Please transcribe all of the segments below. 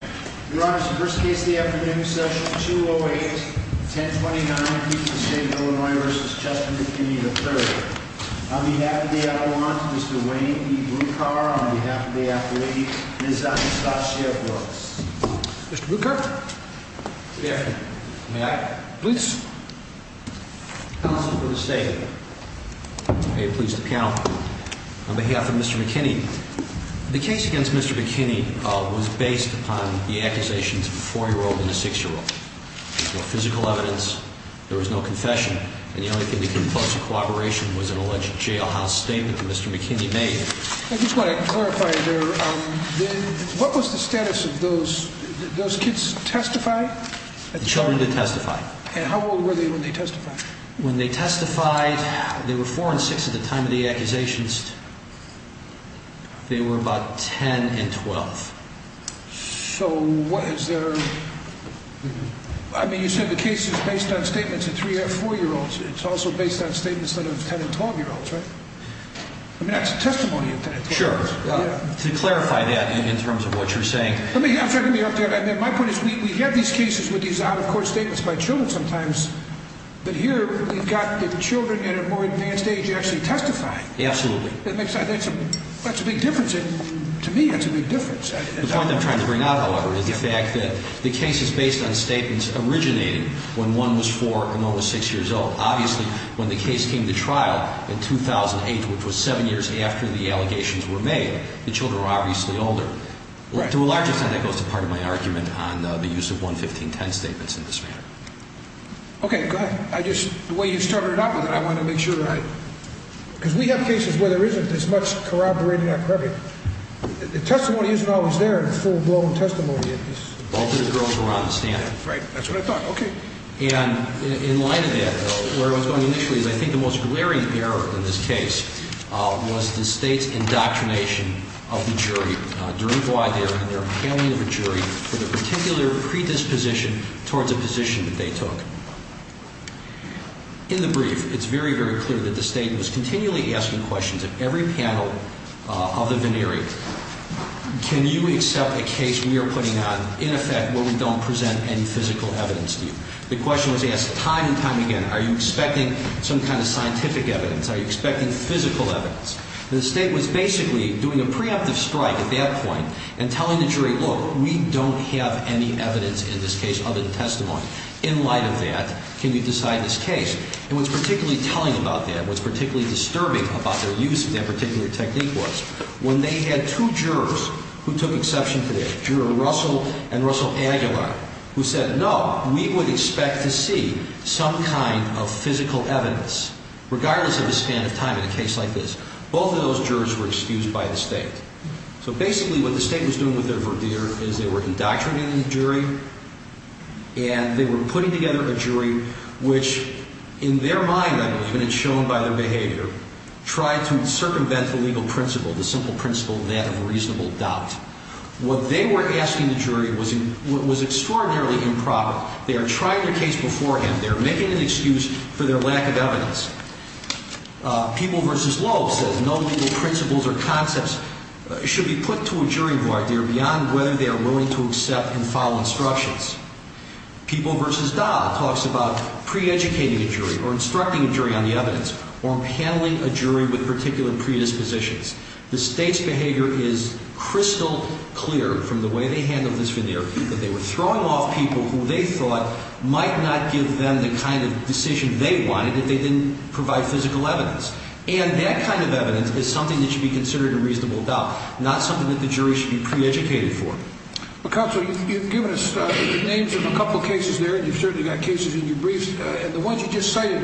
Your Honor, it's the first case of the afternoon, Session 208, 1029, Houston State of Illinois v. Chester McKinney III. On behalf of the Avalanche, Mr. Wayne E. Bluecar, on behalf of the athlete, Ms. Anastasia Brooks. Mr. Bluecar? Good afternoon. May I? Please. Counsel for the State. May it please the panel. On behalf of Mr. McKinney, the case against Mr. McKinney was based upon the accusations of a four-year-old and a six-year-old. There was no physical evidence. There was no confession. And the only thing that came close to corroboration was an alleged jailhouse statement that Mr. McKinney made. I just want to clarify there, what was the status of those kids testified? The children did testify. And how old were they when they testified? When they testified, they were four and six at the time of the accusations. They were about 10 and 12. So what is their... I mean, you said the case is based on statements of three or four-year-olds. It's also based on statements of 10 and 12-year-olds, right? I mean, that's a testimony of 10 and 12-year-olds. Sure. To clarify that in terms of what you're saying. I'm trying to be up there. My point is we have these cases with these out-of-court statements by children sometimes. But here, we've got the children at a more advanced age actually testifying. Absolutely. That's a big difference. To me, that's a big difference. The point I'm trying to bring out, however, is the fact that the case is based on statements originating when one was four and one was six years old. Obviously, when the case came to trial in 2008, which was seven years after the allegations were made, the children were obviously older. To a large extent, that goes to part of my argument on the use of 11510 statements in this manner. Okay. Go ahead. The way you started it out with it, I want to make sure that I... Because we have cases where there isn't as much corroborating activity. The testimony isn't always there in full-blown testimony. Both of the girls were on the stand. Right. That's what I thought. Okay. And in light of that, where I was going initially is I think the most glaring error in this case was the State's indoctrination of the jury. During voir dire and their appelling of a jury for the particular predisposition towards a position that they took. In the brief, it's very, very clear that the State was continually asking questions of every panel of the veneering. Can you accept a case we are putting on in effect where we don't present any physical evidence to you? The question was asked time and time again. Are you expecting some kind of scientific evidence? Are you expecting physical evidence? The State was basically doing a preemptive strike at that point and telling the jury, look, we don't have any evidence in this case other than testimony. In light of that, can you decide this case? And what's particularly telling about that, what's particularly disturbing about their use of that particular technique was when they had two jurors who took exception to that. Juror Russell and Russell Aguilar who said, no, we would expect to see some kind of physical evidence regardless of the span of time in a case like this. Both of those jurors were excused by the State. So basically what the State was doing with their verdict is they were indoctrinating the jury and they were putting together a jury which in their mind, I believe, and it's shown by their behavior, tried to circumvent the legal principle, the simple principle that of reasonable doubt. What they were asking the jury was extraordinarily improper. They are trying their case beforehand. They are making an excuse for their lack of evidence. People v. Loeb says no legal principles or concepts should be put to a jury of idea beyond whether they are willing to accept and follow instructions. People v. Dahl talks about pre-educating a jury or instructing a jury on the evidence or handling a jury with particular predispositions. The State's behavior is crystal clear from the way they handled this veneer that they were throwing off people who they thought might not give them the kind of decision they wanted if they didn't provide physical evidence. And that kind of evidence is something that should be considered a reasonable doubt, not something that the jury should be pre-educated for. Well, counsel, you've given us the names of a couple of cases there, and you've certainly got cases in your briefs, and the ones you just cited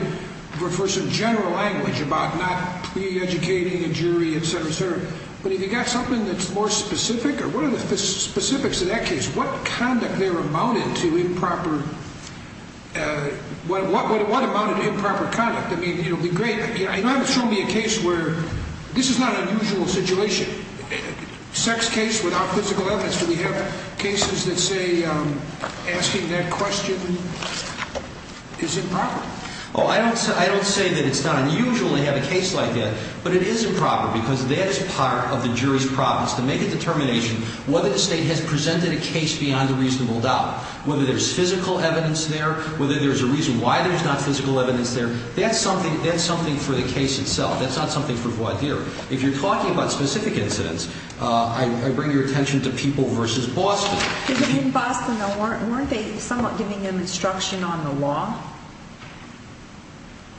refer to some general language about not pre-educating a jury, et cetera, et cetera. But have you got something that's more specific? What are the specifics of that case? What conduct there amounted to improper? What amounted to improper conduct? I mean, it would be great, but you haven't shown me a case where this is not an unusual situation. Sex case without physical evidence, do we have cases that say asking that question is improper? Well, I don't say that it's not unusual to have a case like that. But it is improper because that is part of the jury's province to make a determination whether the state has presented a case beyond a reasonable doubt, whether there's physical evidence there, whether there's a reason why there's not physical evidence there. That's something for the case itself. That's not something for voir dire. If you're talking about specific incidents, I bring your attention to people versus Boston. In Boston, weren't they somewhat giving them instruction on the law?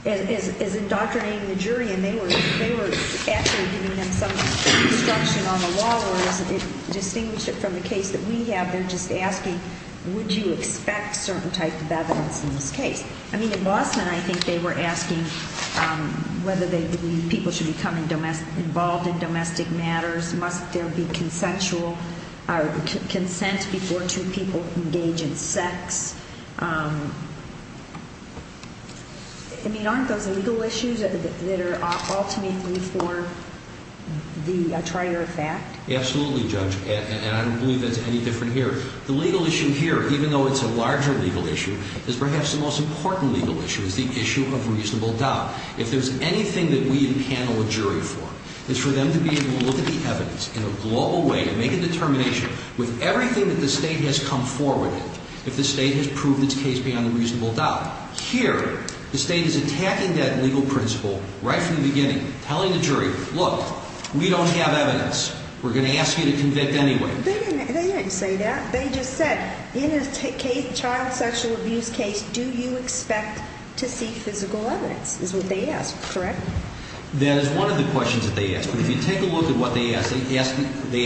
As indoctrinating the jury, and they were actually giving them some instruction on the law, or is it distinguished from the case that we have? They're just asking, would you expect certain type of evidence in this case? I mean, in Boston, I think they were asking whether people should become involved in domestic matters. Must there be consent before two people engage in sex? I mean, aren't those legal issues that are ultimately for the trier of fact? Absolutely, Judge, and I don't believe that's any different here. The legal issue here, even though it's a larger legal issue, is perhaps the most important legal issue. It's the issue of reasonable doubt. If there's anything that we can panel a jury for, it's for them to be able to look at the evidence in a global way and make a determination with everything that the State has come forward with, if the State has proved its case beyond a reasonable doubt. Here, the State is attacking that legal principle right from the beginning, telling the jury, look, we don't have evidence. We're going to ask you to convict anyway. They didn't say that. They just said, in a child sexual abuse case, do you expect to see physical evidence is what they asked, correct? That is one of the questions that they asked. But if you take a look at what they asked, they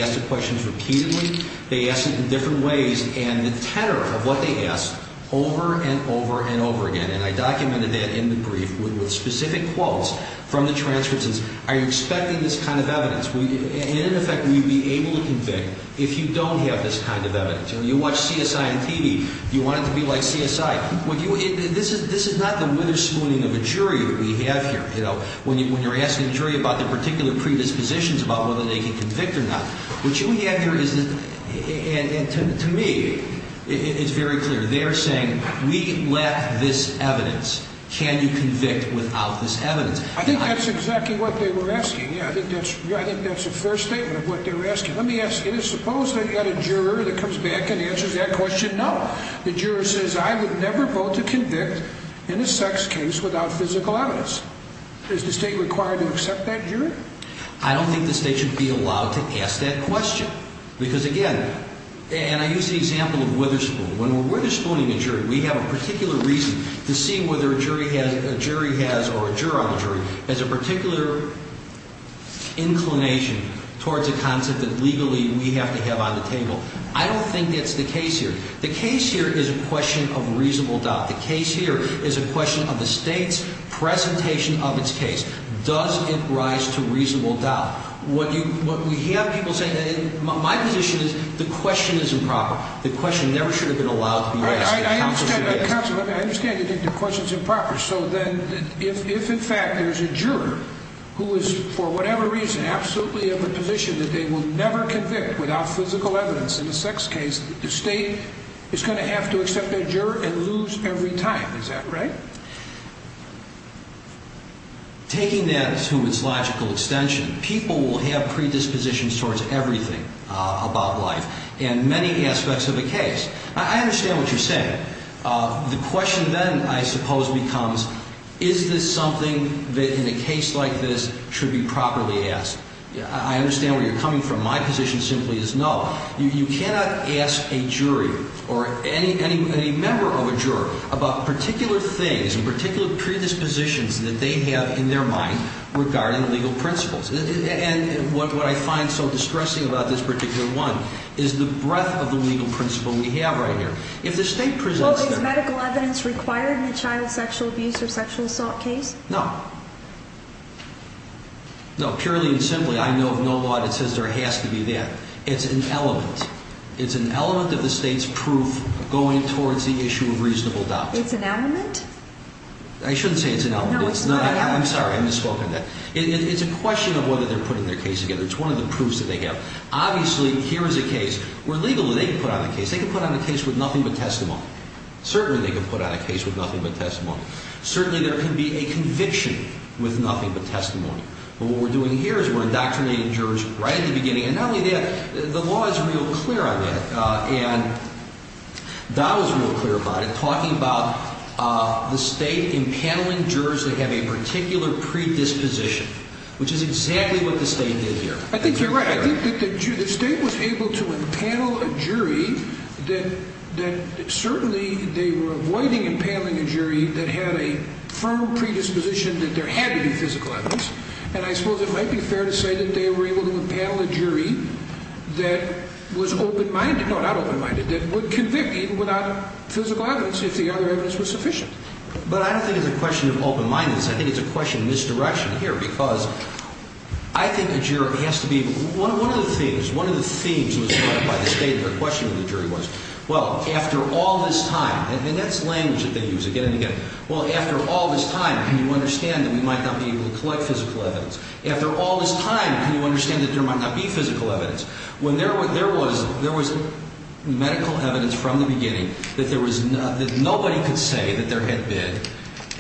asked the questions repeatedly. They asked it in different ways, and the tenor of what they asked over and over and over again, and I documented that in the brief with specific quotes from the transcripts, are you expecting this kind of evidence? In effect, will you be able to convict if you don't have this kind of evidence? You watch CSI on TV. Do you want it to be like CSI? This is not the witherspooning of a jury that we have here. When you're asking a jury about their particular predispositions about whether they can convict or not, what you have here is, to me, it's very clear. They're saying, we let this evidence. Can you convict without this evidence? I think that's exactly what they were asking. I think that's a fair statement of what they were asking. Suppose they've got a juror that comes back and answers that question. No. The juror says, I would never vote to convict in a sex case without physical evidence. Is the state required to accept that jury? I don't think the state should be allowed to ask that question because, again, and I use the example of witherspoon. When we're witherspooning a jury, we have a particular reason to see whether a jury has, or a juror on the jury, has a particular inclination towards a concept that legally we have to have on the table. I don't think that's the case here. The case here is a question of reasonable doubt. The case here is a question of the state's presentation of its case. Does it rise to reasonable doubt? What we have people saying, my position is the question is improper. The question never should have been allowed to be asked. I understand the question's improper. So then if, in fact, there's a juror who is, for whatever reason, absolutely in the position that they will never convict without physical evidence in a sex case, the state is going to have to accept their juror and lose every time. Is that right? Taking that to its logical extension, people will have predispositions towards everything about life and many aspects of a case. I understand what you're saying. The question then, I suppose, becomes is this something that in a case like this should be properly asked? I understand where you're coming from. My position simply is no. You cannot ask a jury or any member of a juror about particular things, particular predispositions that they have in their mind regarding legal principles. And what I find so distressing about this particular one is the breadth of the legal principle we have right here. Well, is medical evidence required in a child sexual abuse or sexual assault case? No. No, purely and simply, I know of no law that says there has to be that. It's an element. It's an element of the state's proof going towards the issue of reasonable doubt. It's an element? I shouldn't say it's an element. No, it's not an element. I'm sorry, I misspoke on that. It's a question of whether they're putting their case together. It's one of the proofs that they have. Obviously, here is a case where legally they can put on a case. They can put on a case with nothing but testimony. Certainly, they can put on a case with nothing but testimony. Certainly, there can be a conviction with nothing but testimony. But what we're doing here is we're indoctrinating jurors right at the beginning. And not only that, the law is real clear on that. And Dahl is real clear about it, talking about the state impaneling jurors that have a particular predisposition, which is exactly what the state did here. I think you're right. I think that the state was able to impanel a jury that certainly they were avoiding impaneling a jury that had a firm predisposition that there had to be physical evidence. And I suppose it might be fair to say that they were able to impanel a jury that was open-minded. No, not open-minded, that would convict even without physical evidence if the other evidence was sufficient. But I don't think it's a question of open-mindedness. I think it's a question of misdirection here. Because I think a jury has to be able to – one of the themes was brought up by the state in their question to the jury was, well, after all this time – and that's language that they use again and again – well, after all this time, can you understand that we might not be able to collect physical evidence? After all this time, can you understand that there might not be physical evidence? When there was medical evidence from the beginning that there was – that nobody could say that there had been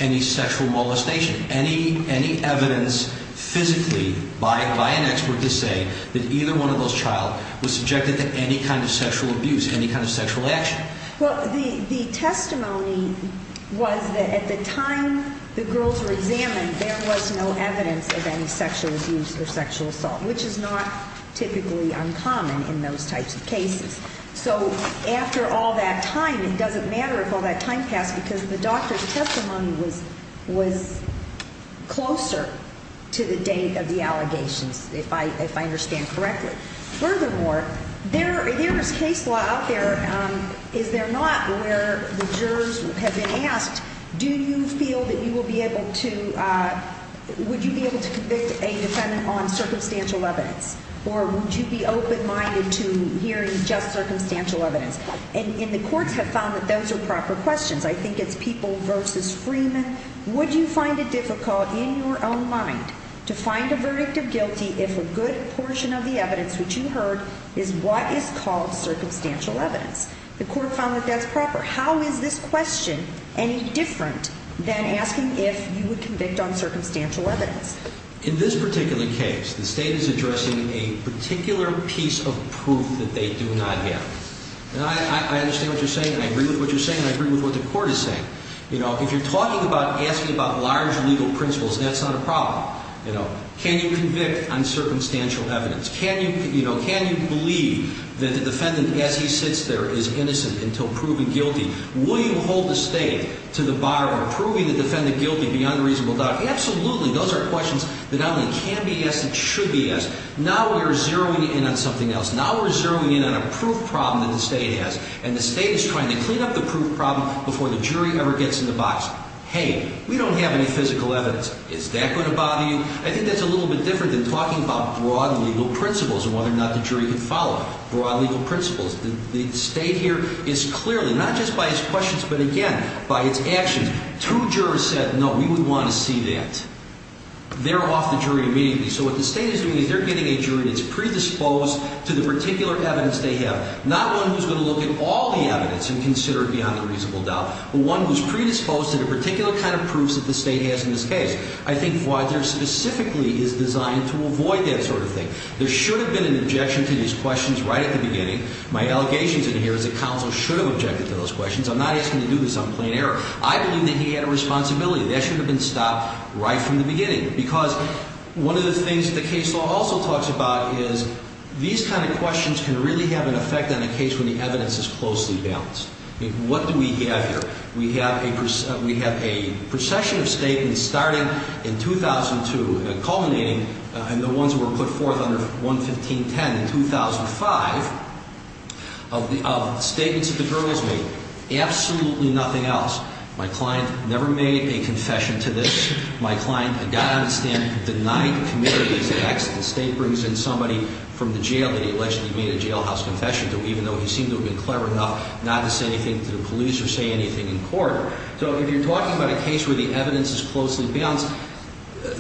any sexual molestation, any evidence physically by an expert to say that either one of those child was subjected to any kind of sexual abuse, any kind of sexual action? Well, the testimony was that at the time the girls were examined, there was no evidence of any sexual abuse or sexual assault, which is not typically uncommon in those types of cases. So after all that time, it doesn't matter if all that time passed because the doctor's testimony was closer to the date of the allegations, if I understand correctly. Furthermore, there is case law out there, is there not, where the jurors have been asked, do you feel that you will be able to – would you be able to convict a defendant on circumstantial evidence? Or would you be open-minded to hearing just circumstantial evidence? And the courts have found that those are proper questions. I think it's People v. Freeman. Would you find it difficult in your own mind to find a verdict of guilty if a good portion of the evidence which you heard is what is called circumstantial evidence? The court found that that's proper. How is this question any different than asking if you would convict on circumstantial evidence? In this particular case, the State is addressing a particular piece of proof that they do not have. And I understand what you're saying, and I agree with what you're saying, and I agree with what the court is saying. If you're talking about asking about large legal principles, that's not a problem. Can you convict on circumstantial evidence? Can you believe that the defendant as he sits there is innocent until proven guilty? Will you hold the State to the bar on proving the defendant guilty beyond reasonable doubt? Absolutely, those are questions that not only can be asked, but should be asked. Now we are zeroing in on something else. Now we're zeroing in on a proof problem that the State has, and the State is trying to clean up the proof problem before the jury ever gets in the box. Hey, we don't have any physical evidence. Is that going to bother you? I think that's a little bit different than talking about broad legal principles and whether or not the jury can follow broad legal principles. The State here is clearly, not just by its questions, but again, by its actions. Two jurors said, no, we would want to see that. They're off the jury immediately. So what the State is doing is they're getting a jury that's predisposed to the particular evidence they have. Not one who's going to look at all the evidence and consider it beyond a reasonable doubt, but one who's predisposed to the particular kind of proofs that the State has in this case. I think Voyager specifically is designed to avoid that sort of thing. There should have been an objection to these questions right at the beginning. My allegations in here is that counsel should have objected to those questions. I'm not asking you to do this on plain error. I believe that he had a responsibility. That should have been stopped right from the beginning. Because one of the things the case law also talks about is these kind of questions can really have an effect on a case when the evidence is closely balanced. What do we have here? We have a procession of statements starting in 2002 and culminating in the ones that were put forth under 11510 in 2005 of statements that the girls made. Absolutely nothing else. My client never made a confession to this. My client, I got to understand, denied committing these acts. The State brings in somebody from the jail that he allegedly made a jailhouse confession to, even though he seemed to have been clever enough not to say anything to the police or say anything in court. So if you're talking about a case where the evidence is closely balanced,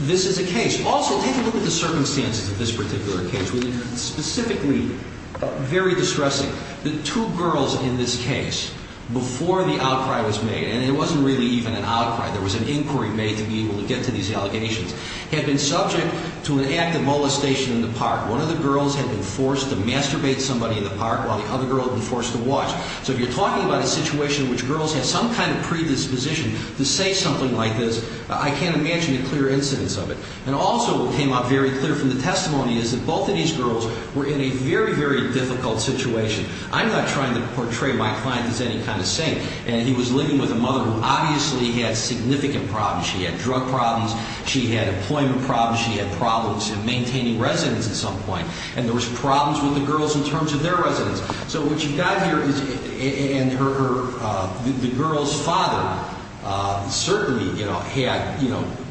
this is a case. Also, take a look at the circumstances of this particular case. Specifically, very distressing, the two girls in this case before the outcry was made, and it wasn't really even an outcry, there was an inquiry made to be able to get to these allegations, had been subject to an act of molestation in the park. One of the girls had been forced to masturbate somebody in the park while the other girl had been forced to watch. So if you're talking about a situation in which girls have some kind of predisposition to say something like this, I can't imagine a clear incidence of it. And also what came out very clear from the testimony is that both of these girls were in a very, very difficult situation. I'm not trying to portray my client as any kind of saint, and he was living with a mother who obviously had significant problems. She had drug problems, she had employment problems, she had problems in maintaining residence at some point, and there was problems with the girls in terms of their residence. So what you've got here is the girl's father certainly had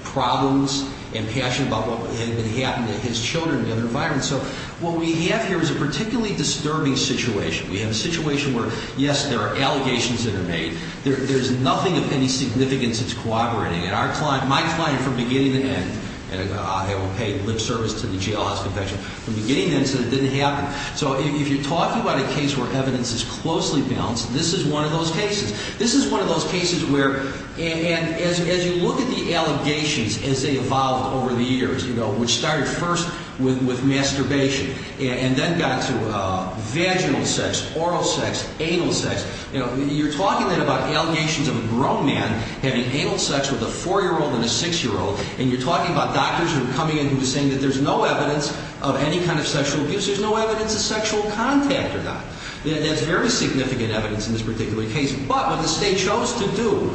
problems and passion about what had happened to his children in the environment. So what we have here is a particularly disturbing situation. We have a situation where, yes, there are allegations that are made. There's nothing of any significance that's corroborating it. My client from beginning to end, and I will pay lip service to the JLS Convention, from beginning to end said it didn't happen. So if you're talking about a case where evidence is closely balanced, this is one of those cases. This is one of those cases where, and as you look at the allegations as they evolved over the years, which started first with masturbation and then got to vaginal sex, oral sex, anal sex, you're talking then about allegations of a grown man having anal sex with a 4-year-old and a 6-year-old, and you're talking about doctors who are coming in who are saying that there's no evidence of any kind of sexual abuse. There's no evidence of sexual contact or not. That's very significant evidence in this particular case. But what the State chose to do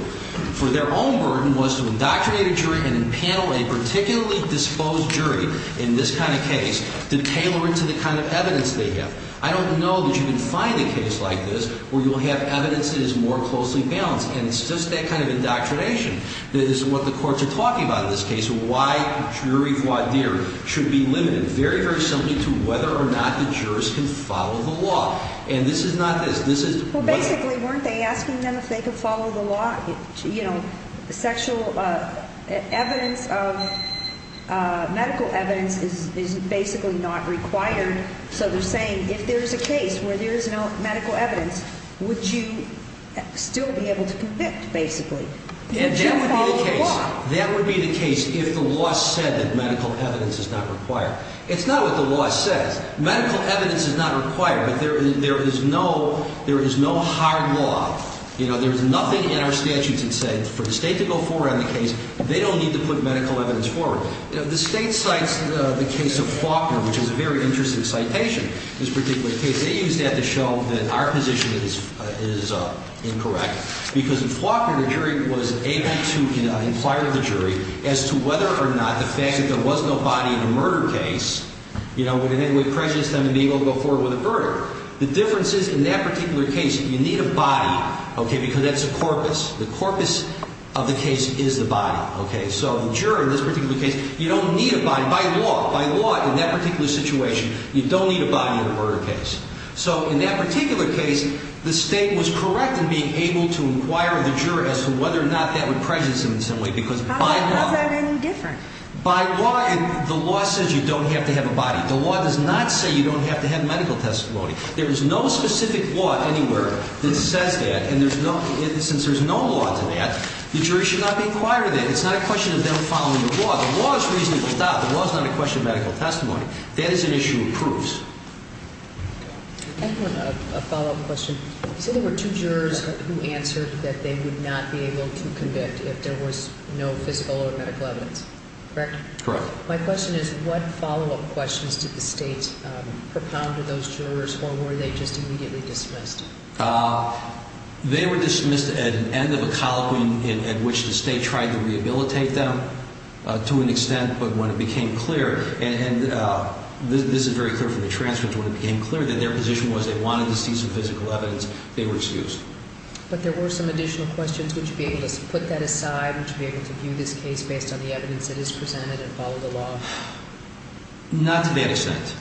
for their own burden was to indoctrinate a jury and impanel a particularly disposed jury in this kind of case to tailor it to the kind of evidence they have. I don't know that you can find a case like this where you'll have evidence that is more closely balanced, and it's just that kind of indoctrination that is what the courts are talking about in this case, why jury voir dire should be limited very, very simply to whether or not the jurors can follow the law. And this is not this. Well, basically, weren't they asking them if they could follow the law? You know, sexual evidence, medical evidence is basically not required. So they're saying if there's a case where there's no medical evidence, would you still be able to convict, basically? That would be the case if the law said that medical evidence is not required. It's not what the law says. Medical evidence is not required, but there is no hard law. You know, there's nothing in our statutes that say for the State to go forward on the case, they don't need to put medical evidence forward. The State cites the case of Faulkner, which is a very interesting citation, this particular case. They used that to show that our position is incorrect because in Faulkner, the jury was able to inquire with the jury as to whether or not the fact that there was no body in the murder case, you know, would it impress them to be able to go forward with the murder? The difference is in that particular case, you need a body, okay, because that's a corpus. The corpus of the case is the body, okay? So the juror in this particular case, you don't need a body by law. By law, in that particular situation, you don't need a body in a murder case. So in that particular case, the State was correct in being able to inquire with the juror as to whether or not that would impress them in some way because by law. How is that any different? By law, the law says you don't have to have a body. The law does not say you don't have to have medical testimony. There is no specific law anywhere that says that, and since there's no law to that, the jury should not be inquiring that. It's not a question of them following the law. The law is reasonable. The law is not a question of medical testimony. That is an issue of proofs. I have a follow-up question. You said there were two jurors who answered that they would not be able to convict if there was no physical or medical evidence, correct? Correct. My question is what follow-up questions did the State propound to those jurors, or were they just immediately dismissed? They were dismissed at the end of a colloquy in which the State tried to rehabilitate them to an extent, but when it became clear, and this is very clear from the transcript, when it became clear that their position was they wanted to see some physical evidence, they were excused. But there were some additional questions. Would you be able to put that aside? Would you be able to view this case based on the evidence that is presented and follow the law? Not to that extent.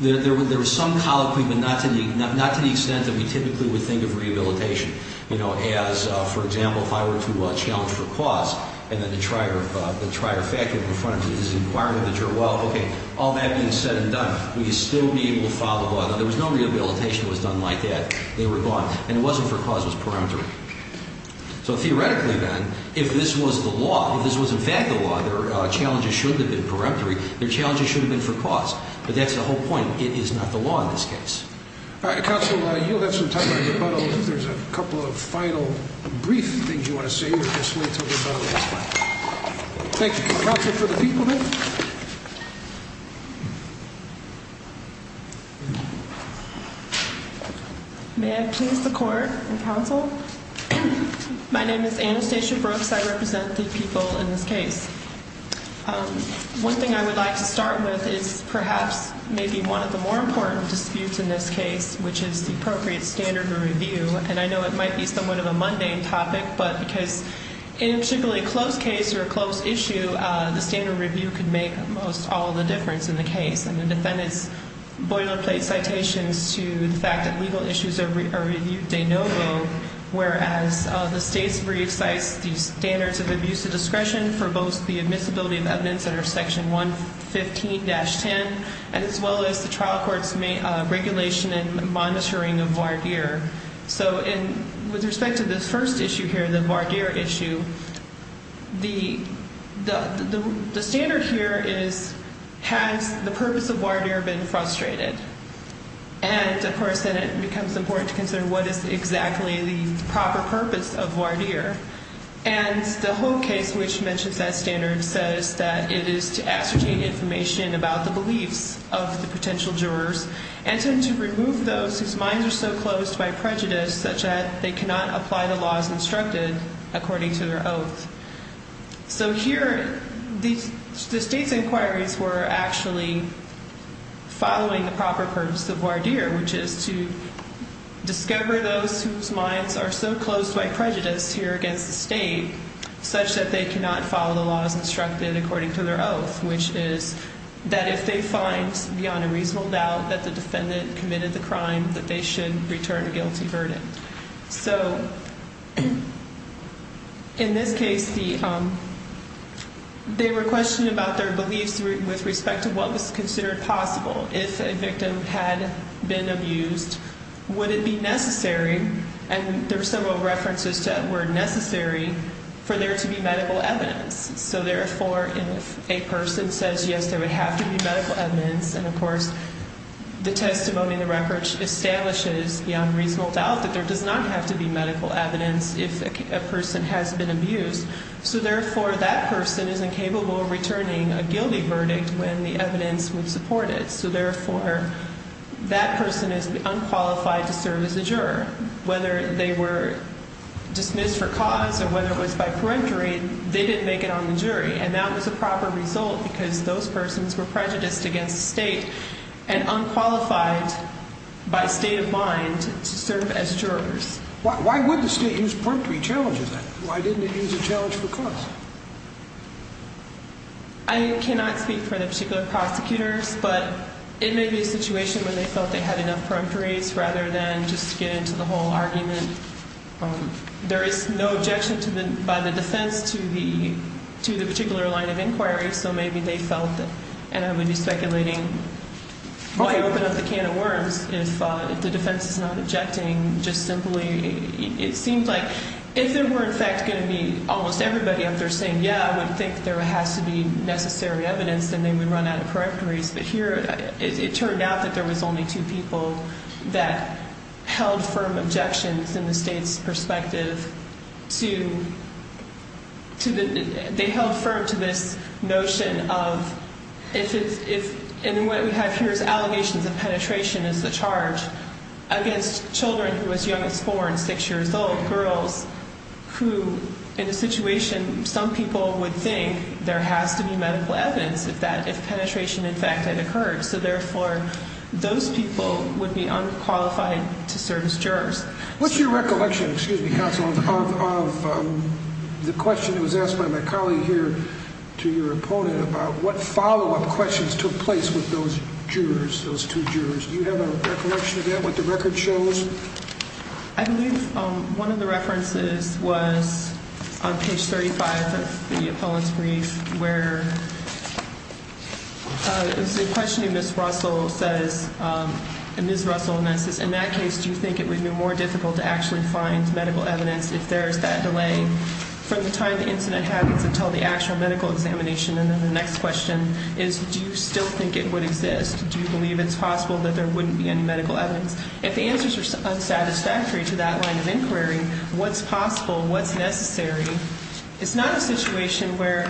There was some colloquy, but not to the extent that we typically would think of rehabilitation, you know, as, for example, if I were to challenge for cause and then the trier factored in front of me, this is an inquiry with a juror. Well, okay, all that being said and done, would you still be able to follow the law? Now, there was no rehabilitation that was done like that. They were gone. And it wasn't for cause. It was peremptory. So theoretically, then, if this was the law, if this was in fact the law, their challenges should have been peremptory. Their challenges should have been for cause. But that's the whole point. It is not the law in this case. All right. Counsel, you'll have some time for rebuttals if there's a couple of final brief things you want to say. We'll just wait until rebuttals. Thank you. Counsel for the people, then. May I please the court and counsel? My name is Anastasia Brooks. I represent the people in this case. One thing I would like to start with is perhaps maybe one of the more important disputes in this case, which is the appropriate standard of review. And I know it might be somewhat of a mundane topic, but because in a particularly close case or a close issue, the standard review could make almost all the difference in the case. And the defendant's boilerplate citations to the fact that legal issues are reviewed de novo, whereas the state's brief cites the standards of abuse of discretion for both the admissibility of evidence under Section 115-10, as well as the trial court's regulation and monitoring of voir dire. So with respect to this first issue here, the voir dire issue, the standard here is, has the purpose of voir dire been frustrated? And, of course, then it becomes important to consider what is exactly the proper purpose of voir dire. And the whole case which mentions that standard says that it is to ascertain information about the beliefs of the potential jurors and to remove those whose minds are so closed by prejudice such that they cannot apply the laws instructed according to their oath. So here, the state's inquiries were actually following the proper purpose of voir dire, which is to discover those whose minds are so closed by prejudice here against the state, such that they cannot follow the laws instructed according to their oath, which is that if they find beyond a reasonable doubt that the defendant committed the crime, that they should return a guilty verdict. So in this case, they were questioning about their beliefs with respect to what was considered possible. If a victim had been abused, would it be necessary? And there were several references to the word necessary for there to be medical evidence. So therefore, if a person says, yes, there would have to be medical evidence, and of course, the testimony in the record establishes beyond reasonable doubt that there does not have to be medical evidence if a person has been abused. So therefore, that person is incapable of returning a guilty verdict when the evidence would support it. So therefore, that person is unqualified to serve as a juror. Whether they were dismissed for cause or whether it was by peremptory, they didn't make it on the jury. And that was a proper result because those persons were prejudiced against the state and unqualified by state of mind to serve as jurors. Why would the state use peremptory challenges then? Why didn't it use a challenge for cause? I cannot speak for the particular prosecutors, but it may be a situation where they felt they had enough peremptories rather than just get into the whole argument. There is no objection by the defense to the particular line of inquiry, so maybe they felt that, and I would be speculating why open up the can of worms if the defense is not objecting. Just simply, it seems like if there were in fact going to be almost everybody up there saying, yeah, I would think there has to be necessary evidence, then they would run out of peremptories. But here, it turned out that there was only two people that held firm objections in the state's perspective. They held firm to this notion of, and what we have here is allegations of penetration as the charge against children who was young as four and six years old, girls who, in a situation, some people would think there has to be medical evidence if penetration in fact had occurred. So therefore, those people would be unqualified to serve as jurors. What's your recollection, excuse me, counsel, of the question that was asked by my colleague here to your opponent about what follow-up questions took place with those jurors, those two jurors? Do you have a recollection of that, what the record shows? I believe one of the references was on page 35 of the appellant's brief where the question to Ms. Russell says, and Ms. Russell admits this, in that case, do you think it would be more difficult to actually find medical evidence if there is that delay from the time the incident happens until the actual medical examination? And then the next question is, do you still think it would exist? Do you believe it's possible that there wouldn't be any medical evidence? If the answers are unsatisfactory to that line of inquiry, what's possible, what's necessary? It's not a situation where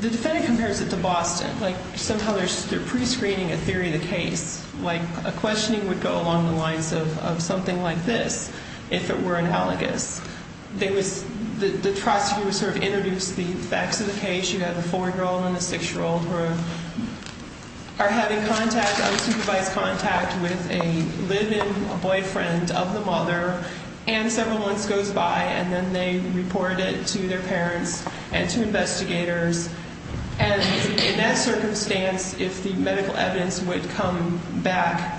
the defendant compares it to Boston. Like somehow they're prescreening a theory of the case. Like a questioning would go along the lines of something like this if it were analogous. The prosecutor would sort of introduce the facts of the case. You have a 4-year-old and a 6-year-old who are having contact, unsupervised contact with a live-in boyfriend of the mother. And several months goes by and then they report it to their parents and to investigators. And in that circumstance, if the medical evidence would come back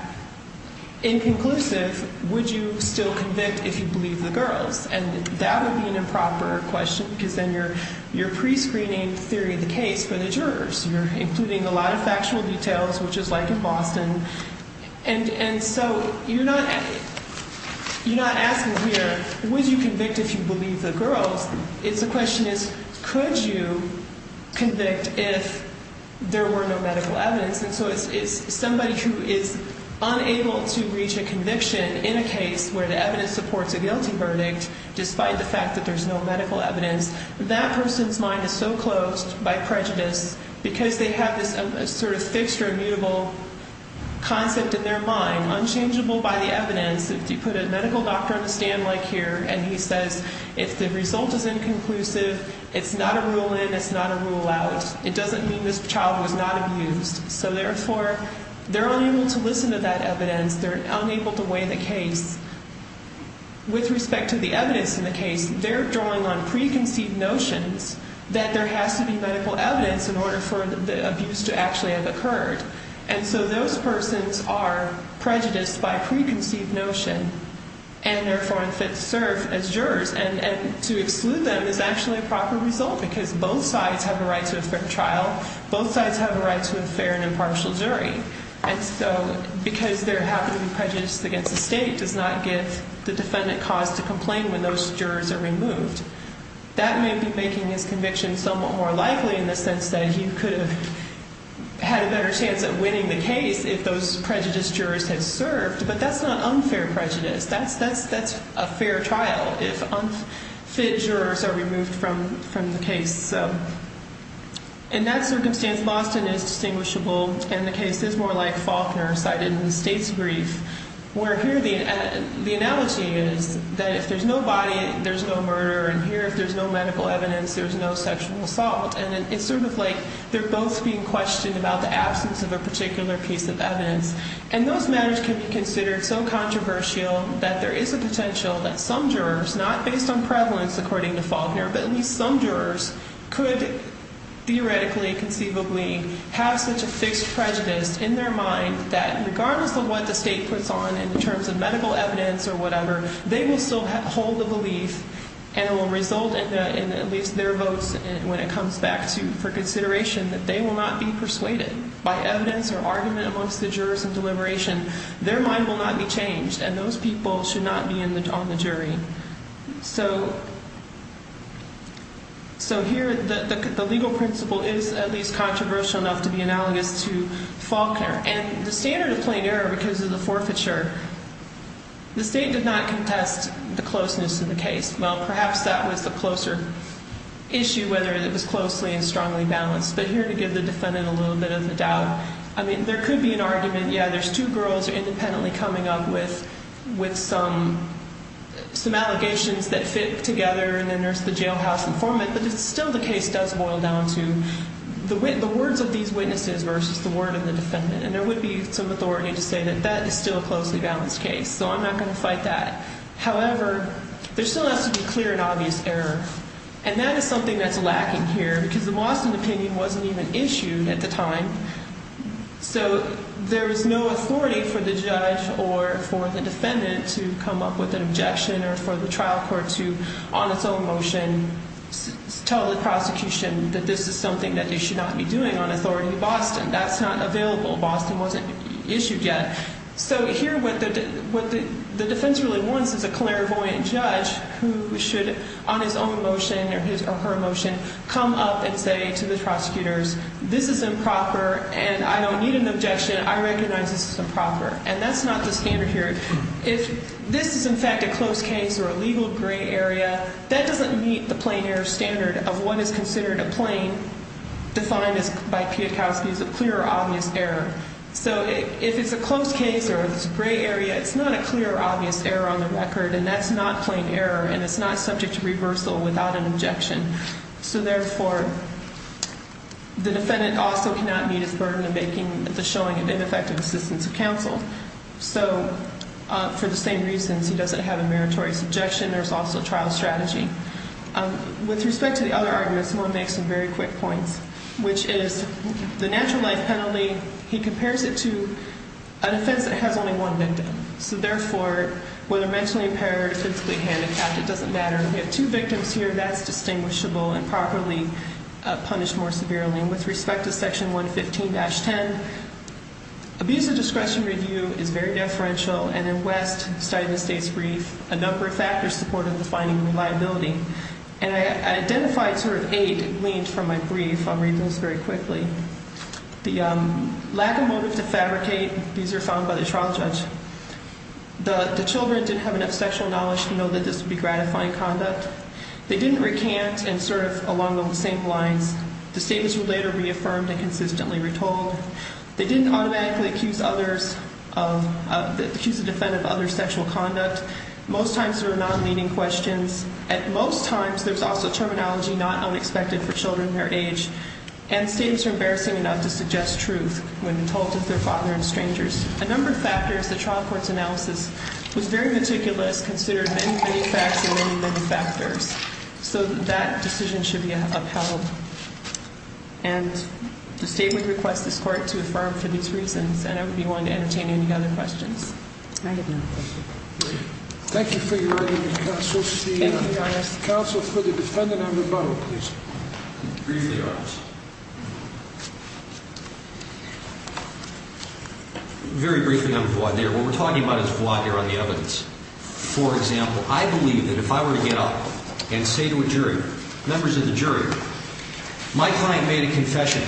inconclusive, would you still convict if you believe the girls? And that would be an improper question because then you're prescreening the theory of the case for the jurors. You're including a lot of factual details, which is like in Boston. And so you're not asking here, would you convict if you believe the girls? The question is, could you convict if there were no medical evidence? And so it's somebody who is unable to reach a conviction in a case where the evidence supports a guilty verdict despite the fact that there's no medical evidence. That person's mind is so closed by prejudice because they have this sort of fixed or immutable concept in their mind, unchangeable by the evidence. If you put a medical doctor on the stand like here and he says, if the result is inconclusive, it's not a rule in, it's not a rule out. It doesn't mean this child was not abused. So therefore, they're unable to listen to that evidence. They're unable to weigh the case. With respect to the evidence in the case, they're drawing on preconceived notions that there has to be medical evidence in order for the abuse to actually have occurred. And so those persons are prejudiced by preconceived notion and therefore unfit to serve as jurors. And to exclude them is actually a proper result because both sides have a right to a fair trial. Both sides have a right to a fair and impartial jury. And so because there happened to be prejudice against the state does not give the defendant cause to complain when those jurors are removed. That may be making his conviction somewhat more likely in the sense that he could have had a better chance at winning the case if those prejudiced jurors had served. But that's not unfair prejudice. That's a fair trial if unfit jurors are removed from the case. So in that circumstance, Boston is distinguishable. And the case is more like Faulkner cited in the state's brief where here the analogy is that if there's no body, there's no murder. And here if there's no medical evidence, there's no sexual assault. And it's sort of like they're both being questioned about the absence of a particular piece of evidence. And those matters can be considered so controversial that there is a potential that some jurors, not based on prevalence according to Faulkner, but at least some jurors could theoretically, conceivably have such a fixed prejudice in their mind that regardless of what the state puts on in terms of medical evidence or whatever, they will still hold the belief and will result in at least their votes when it comes back to for consideration that they will not be persuaded by evidence or argument amongst the jurors in deliberation. Their mind will not be changed. And those people should not be on the jury. So here the legal principle is at least controversial enough to be analogous to Faulkner. And the standard of plain error because of the forfeiture, the state did not contest the closeness of the case. Well, perhaps that was the closer issue, whether it was closely and strongly balanced. But here to give the defendant a little bit of a doubt, I mean, there could be an argument, yeah, there's two girls independently coming up with some allegations that fit together and then there's the jailhouse informant. But still the case does boil down to the words of these witnesses versus the word of the defendant. And there would be some authority to say that that is still a closely balanced case. So I'm not going to fight that. However, there still has to be clear and obvious error. And that is something that's lacking here because the Boston opinion wasn't even issued at the time. So there is no authority for the judge or for the defendant to come up with an objection or for the trial court to, on its own motion, tell the prosecution that this is something that they should not be doing on authority in Boston. That's not available. Boston wasn't issued yet. So here what the defense really wants is a clairvoyant judge who should, on his own motion or her motion, come up and say to the prosecutors, this is improper and I don't need an objection. I recognize this is improper. And that's not the standard here. If this is, in fact, a close case or a legal gray area, that doesn't meet the plain error standard of what is considered a plain, defined by Pietkowski as a clear or obvious error. So if it's a close case or it's a gray area, it's not a clear or obvious error on the record, and that's not plain error and it's not subject to reversal without an objection. So therefore, the defendant also cannot meet his burden of making the showing of ineffective assistance of counsel. So for the same reasons, he doesn't have a meritorious objection. There's also trial strategy. With respect to the other argument, Simone makes some very quick points, which is the natural life penalty, he compares it to an offense that has only one victim. So therefore, whether mentally impaired or physically handicapped, it doesn't matter. We have two victims here. That's distinguishable and properly punished more severely. And with respect to Section 115-10, abuse of discretion review is very deferential, and in West, studying the state's brief, a number of factors supported the finding of reliability. And I identified sort of eight, it leaned from my brief. I'll read those very quickly. The lack of motive to fabricate, these are found by the trial judge. The children didn't have enough sexual knowledge to know that this would be gratifying conduct. They didn't recant and sort of along those same lines. The statements were later reaffirmed and consistently retold. They didn't automatically accuse others of, accuse the defendant of other sexual conduct. Most times there were non-leading questions. At most times, there was also terminology not unexpected for children their age. And statements were embarrassing enough to suggest truth when told to their father and strangers. A number of factors, the trial court's analysis was very meticulous, considered many, many facts and many, many factors. So that decision should be upheld. And the state would request this court to affirm for these reasons, and I would be willing to entertain any other questions. I have no other questions. Thank you for your testimony, counsel. Thank you, Your Honor. Counsel, for the defendant, I have a rebuttal, please. Briefly, Your Honor. Very briefly, I'm void there. What we're talking about is void there on the evidence. For example, I believe that if I were to get up and say to a jury, members of the jury, my client made a confession.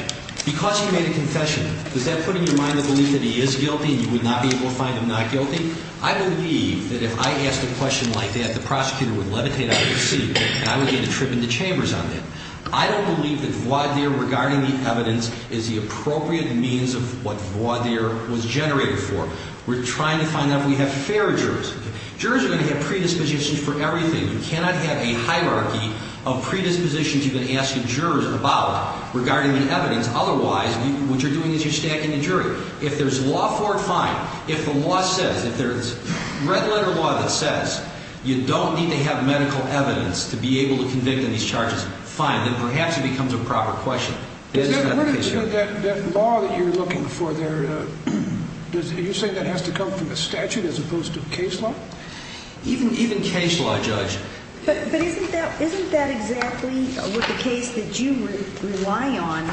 Because he made a confession, does that put in your mind the belief that he is guilty and you would not be able to find him not guilty? I believe that if I asked a question like that, the prosecutor would levitate out of his seat and I would get a trip into chambers on that. I don't believe that void there regarding the evidence is the appropriate means of what void there was generated for. We're trying to find out if we have fair jurors. Jurors are going to have predispositions for everything. You cannot have a hierarchy of predispositions you can ask the jurors about regarding the evidence. Otherwise, what you're doing is you're stacking the jury. If there's law for it, fine. If the law says, if there's red-letter law that says you don't need to have medical evidence to be able to convict in these charges, fine. Then perhaps it becomes a proper question. Is there a version of that law that you're looking for there? Do you say that has to come from the statute as opposed to case law? Even case law, Judge. But isn't that exactly what the case that you rely on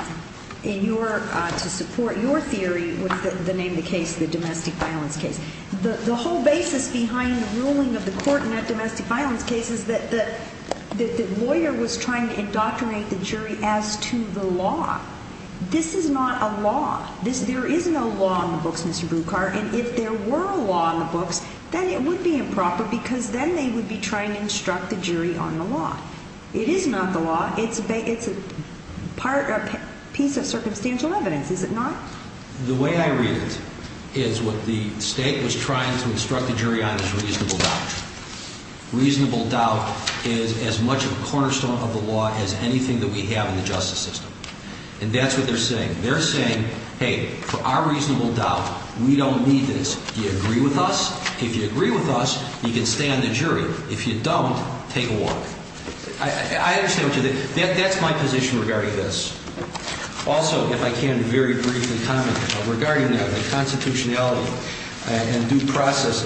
to support your theory, what is the name of the case, the domestic violence case? The whole basis behind the ruling of the court in that domestic violence case is that the lawyer was trying to indoctrinate the jury as to the law. This is not a law. There is no law in the books, Mr. Brucar, and if there were a law in the books, then it would be improper because then they would be trying to instruct the jury on the law. It is not the law. It's a piece of circumstantial evidence, is it not? The way I read it is what the state was trying to instruct the jury on is reasonable doubt. Reasonable doubt is as much a cornerstone of the law as anything that we have in the justice system. And that's what they're saying. They're saying, hey, for our reasonable doubt, we don't need this. Do you agree with us? If you agree with us, you can stay on the jury. If you don't, take a walk. I understand what you're saying. That's my position regarding this. Also, if I can very briefly comment regarding the constitutionality and due process,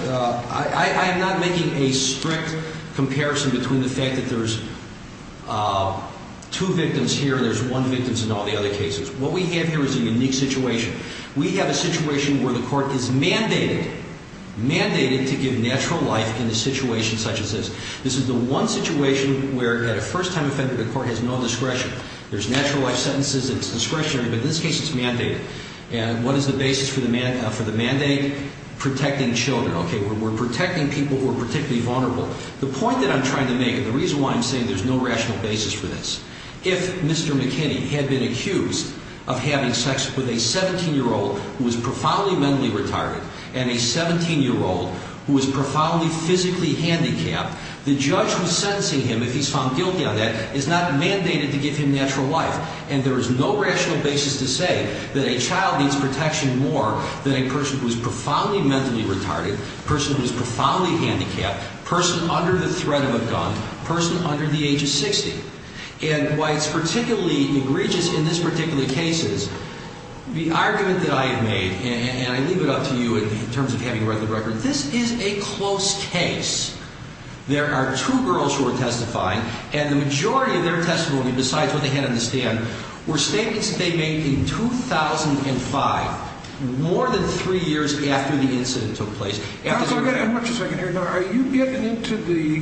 I am not making a strict comparison between the fact that there's two victims here and there's one victim in all the other cases. What we have here is a unique situation. We have a situation where the court is mandated, mandated to give natural life in a situation such as this. This is the one situation where, at a first-time offender, the court has no discretion. There's natural life sentences. It's discretionary. But in this case, it's mandated. And what is the basis for the mandate? Protecting children. Okay, we're protecting people who are particularly vulnerable. The point that I'm trying to make and the reason why I'm saying there's no rational basis for this, if Mr. McKinney had been accused of having sex with a 17-year-old who was profoundly mentally retarded and a 17-year-old who was profoundly physically handicapped, the judge who's sentencing him, if he's found guilty on that, is not mandated to give him natural life. And there is no rational basis to say that a child needs protection more than a person who is profoundly mentally retarded, a person who is profoundly handicapped, a person under the threat of a gun, a person under the age of 60. And why it's particularly egregious in this particular case is the argument that I have made, and I leave it up to you in terms of having read the record, this is a close case. There are two girls who are testifying, and the majority of their testimony, besides what they had on the stand, were statements that they made in 2005, more than three years after the incident took place. Are you getting into the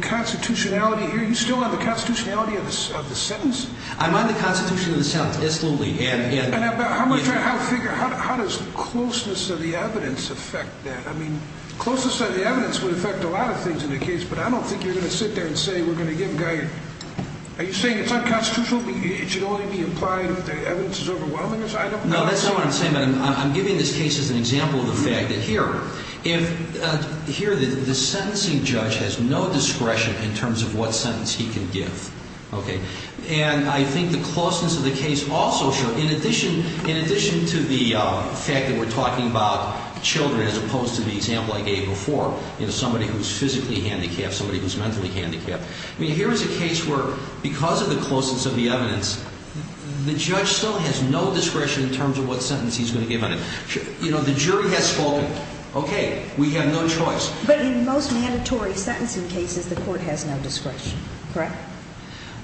constitutionality here? Are you still on the constitutionality of the sentence? I'm on the constitutionality of the sentence, absolutely. And how does closeness of the evidence affect that? I mean, closeness of the evidence would affect a lot of things in the case, but I don't think you're going to sit there and say we're going to give a guy... Are you saying it's unconstitutional, it should only be implied if the evidence is overwhelming? No, that's not what I'm saying. I'm giving this case as an example of the fact that here, the sentencing judge has no discretion in terms of what sentence he can give. And I think the closeness of the case also shows, in addition to the fact that we're talking about children as opposed to the example I gave before, somebody who's physically handicapped, somebody who's mentally handicapped, here is a case where, because of the closeness of the evidence, the judge still has no discretion in terms of what sentence he's going to give on it. You know, the jury has spoken. Okay, we have no choice. But in most mandatory sentencing cases, the court has no discretion, correct?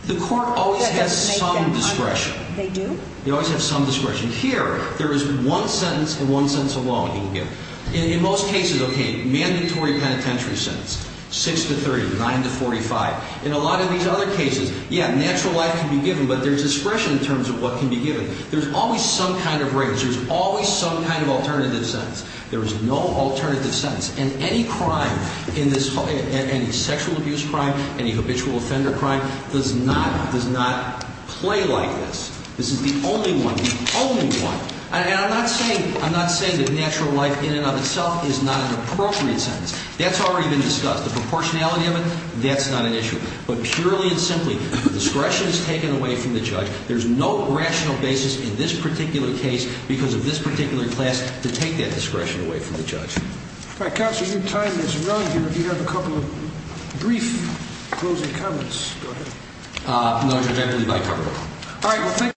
The court always has some discretion. They do? They always have some discretion. Here, there is one sentence and one sentence alone he can give. In most cases, okay, mandatory penitentiary sentence, 6 to 30, 9 to 45. In a lot of these other cases, yeah, natural life can be given, but there's discretion in terms of what can be given. There's always some kind of range. There's always some kind of alternative sentence. There is no alternative sentence. And any crime, any sexual abuse crime, any habitual offender crime does not play like this. This is the only one, the only one. And I'm not saying that natural life in and of itself is not an appropriate sentence. That's already been discussed. The proportionality of it, that's not an issue. But purely and simply, the discretion is taken away from the judge. There's no rational basis in this particular case because of this particular class to take that discretion away from the judge. All right, counsel, your time is run here. If you have a couple of brief closing comments, go ahead. No, Judge, I believe I covered it. All right, well, thank you.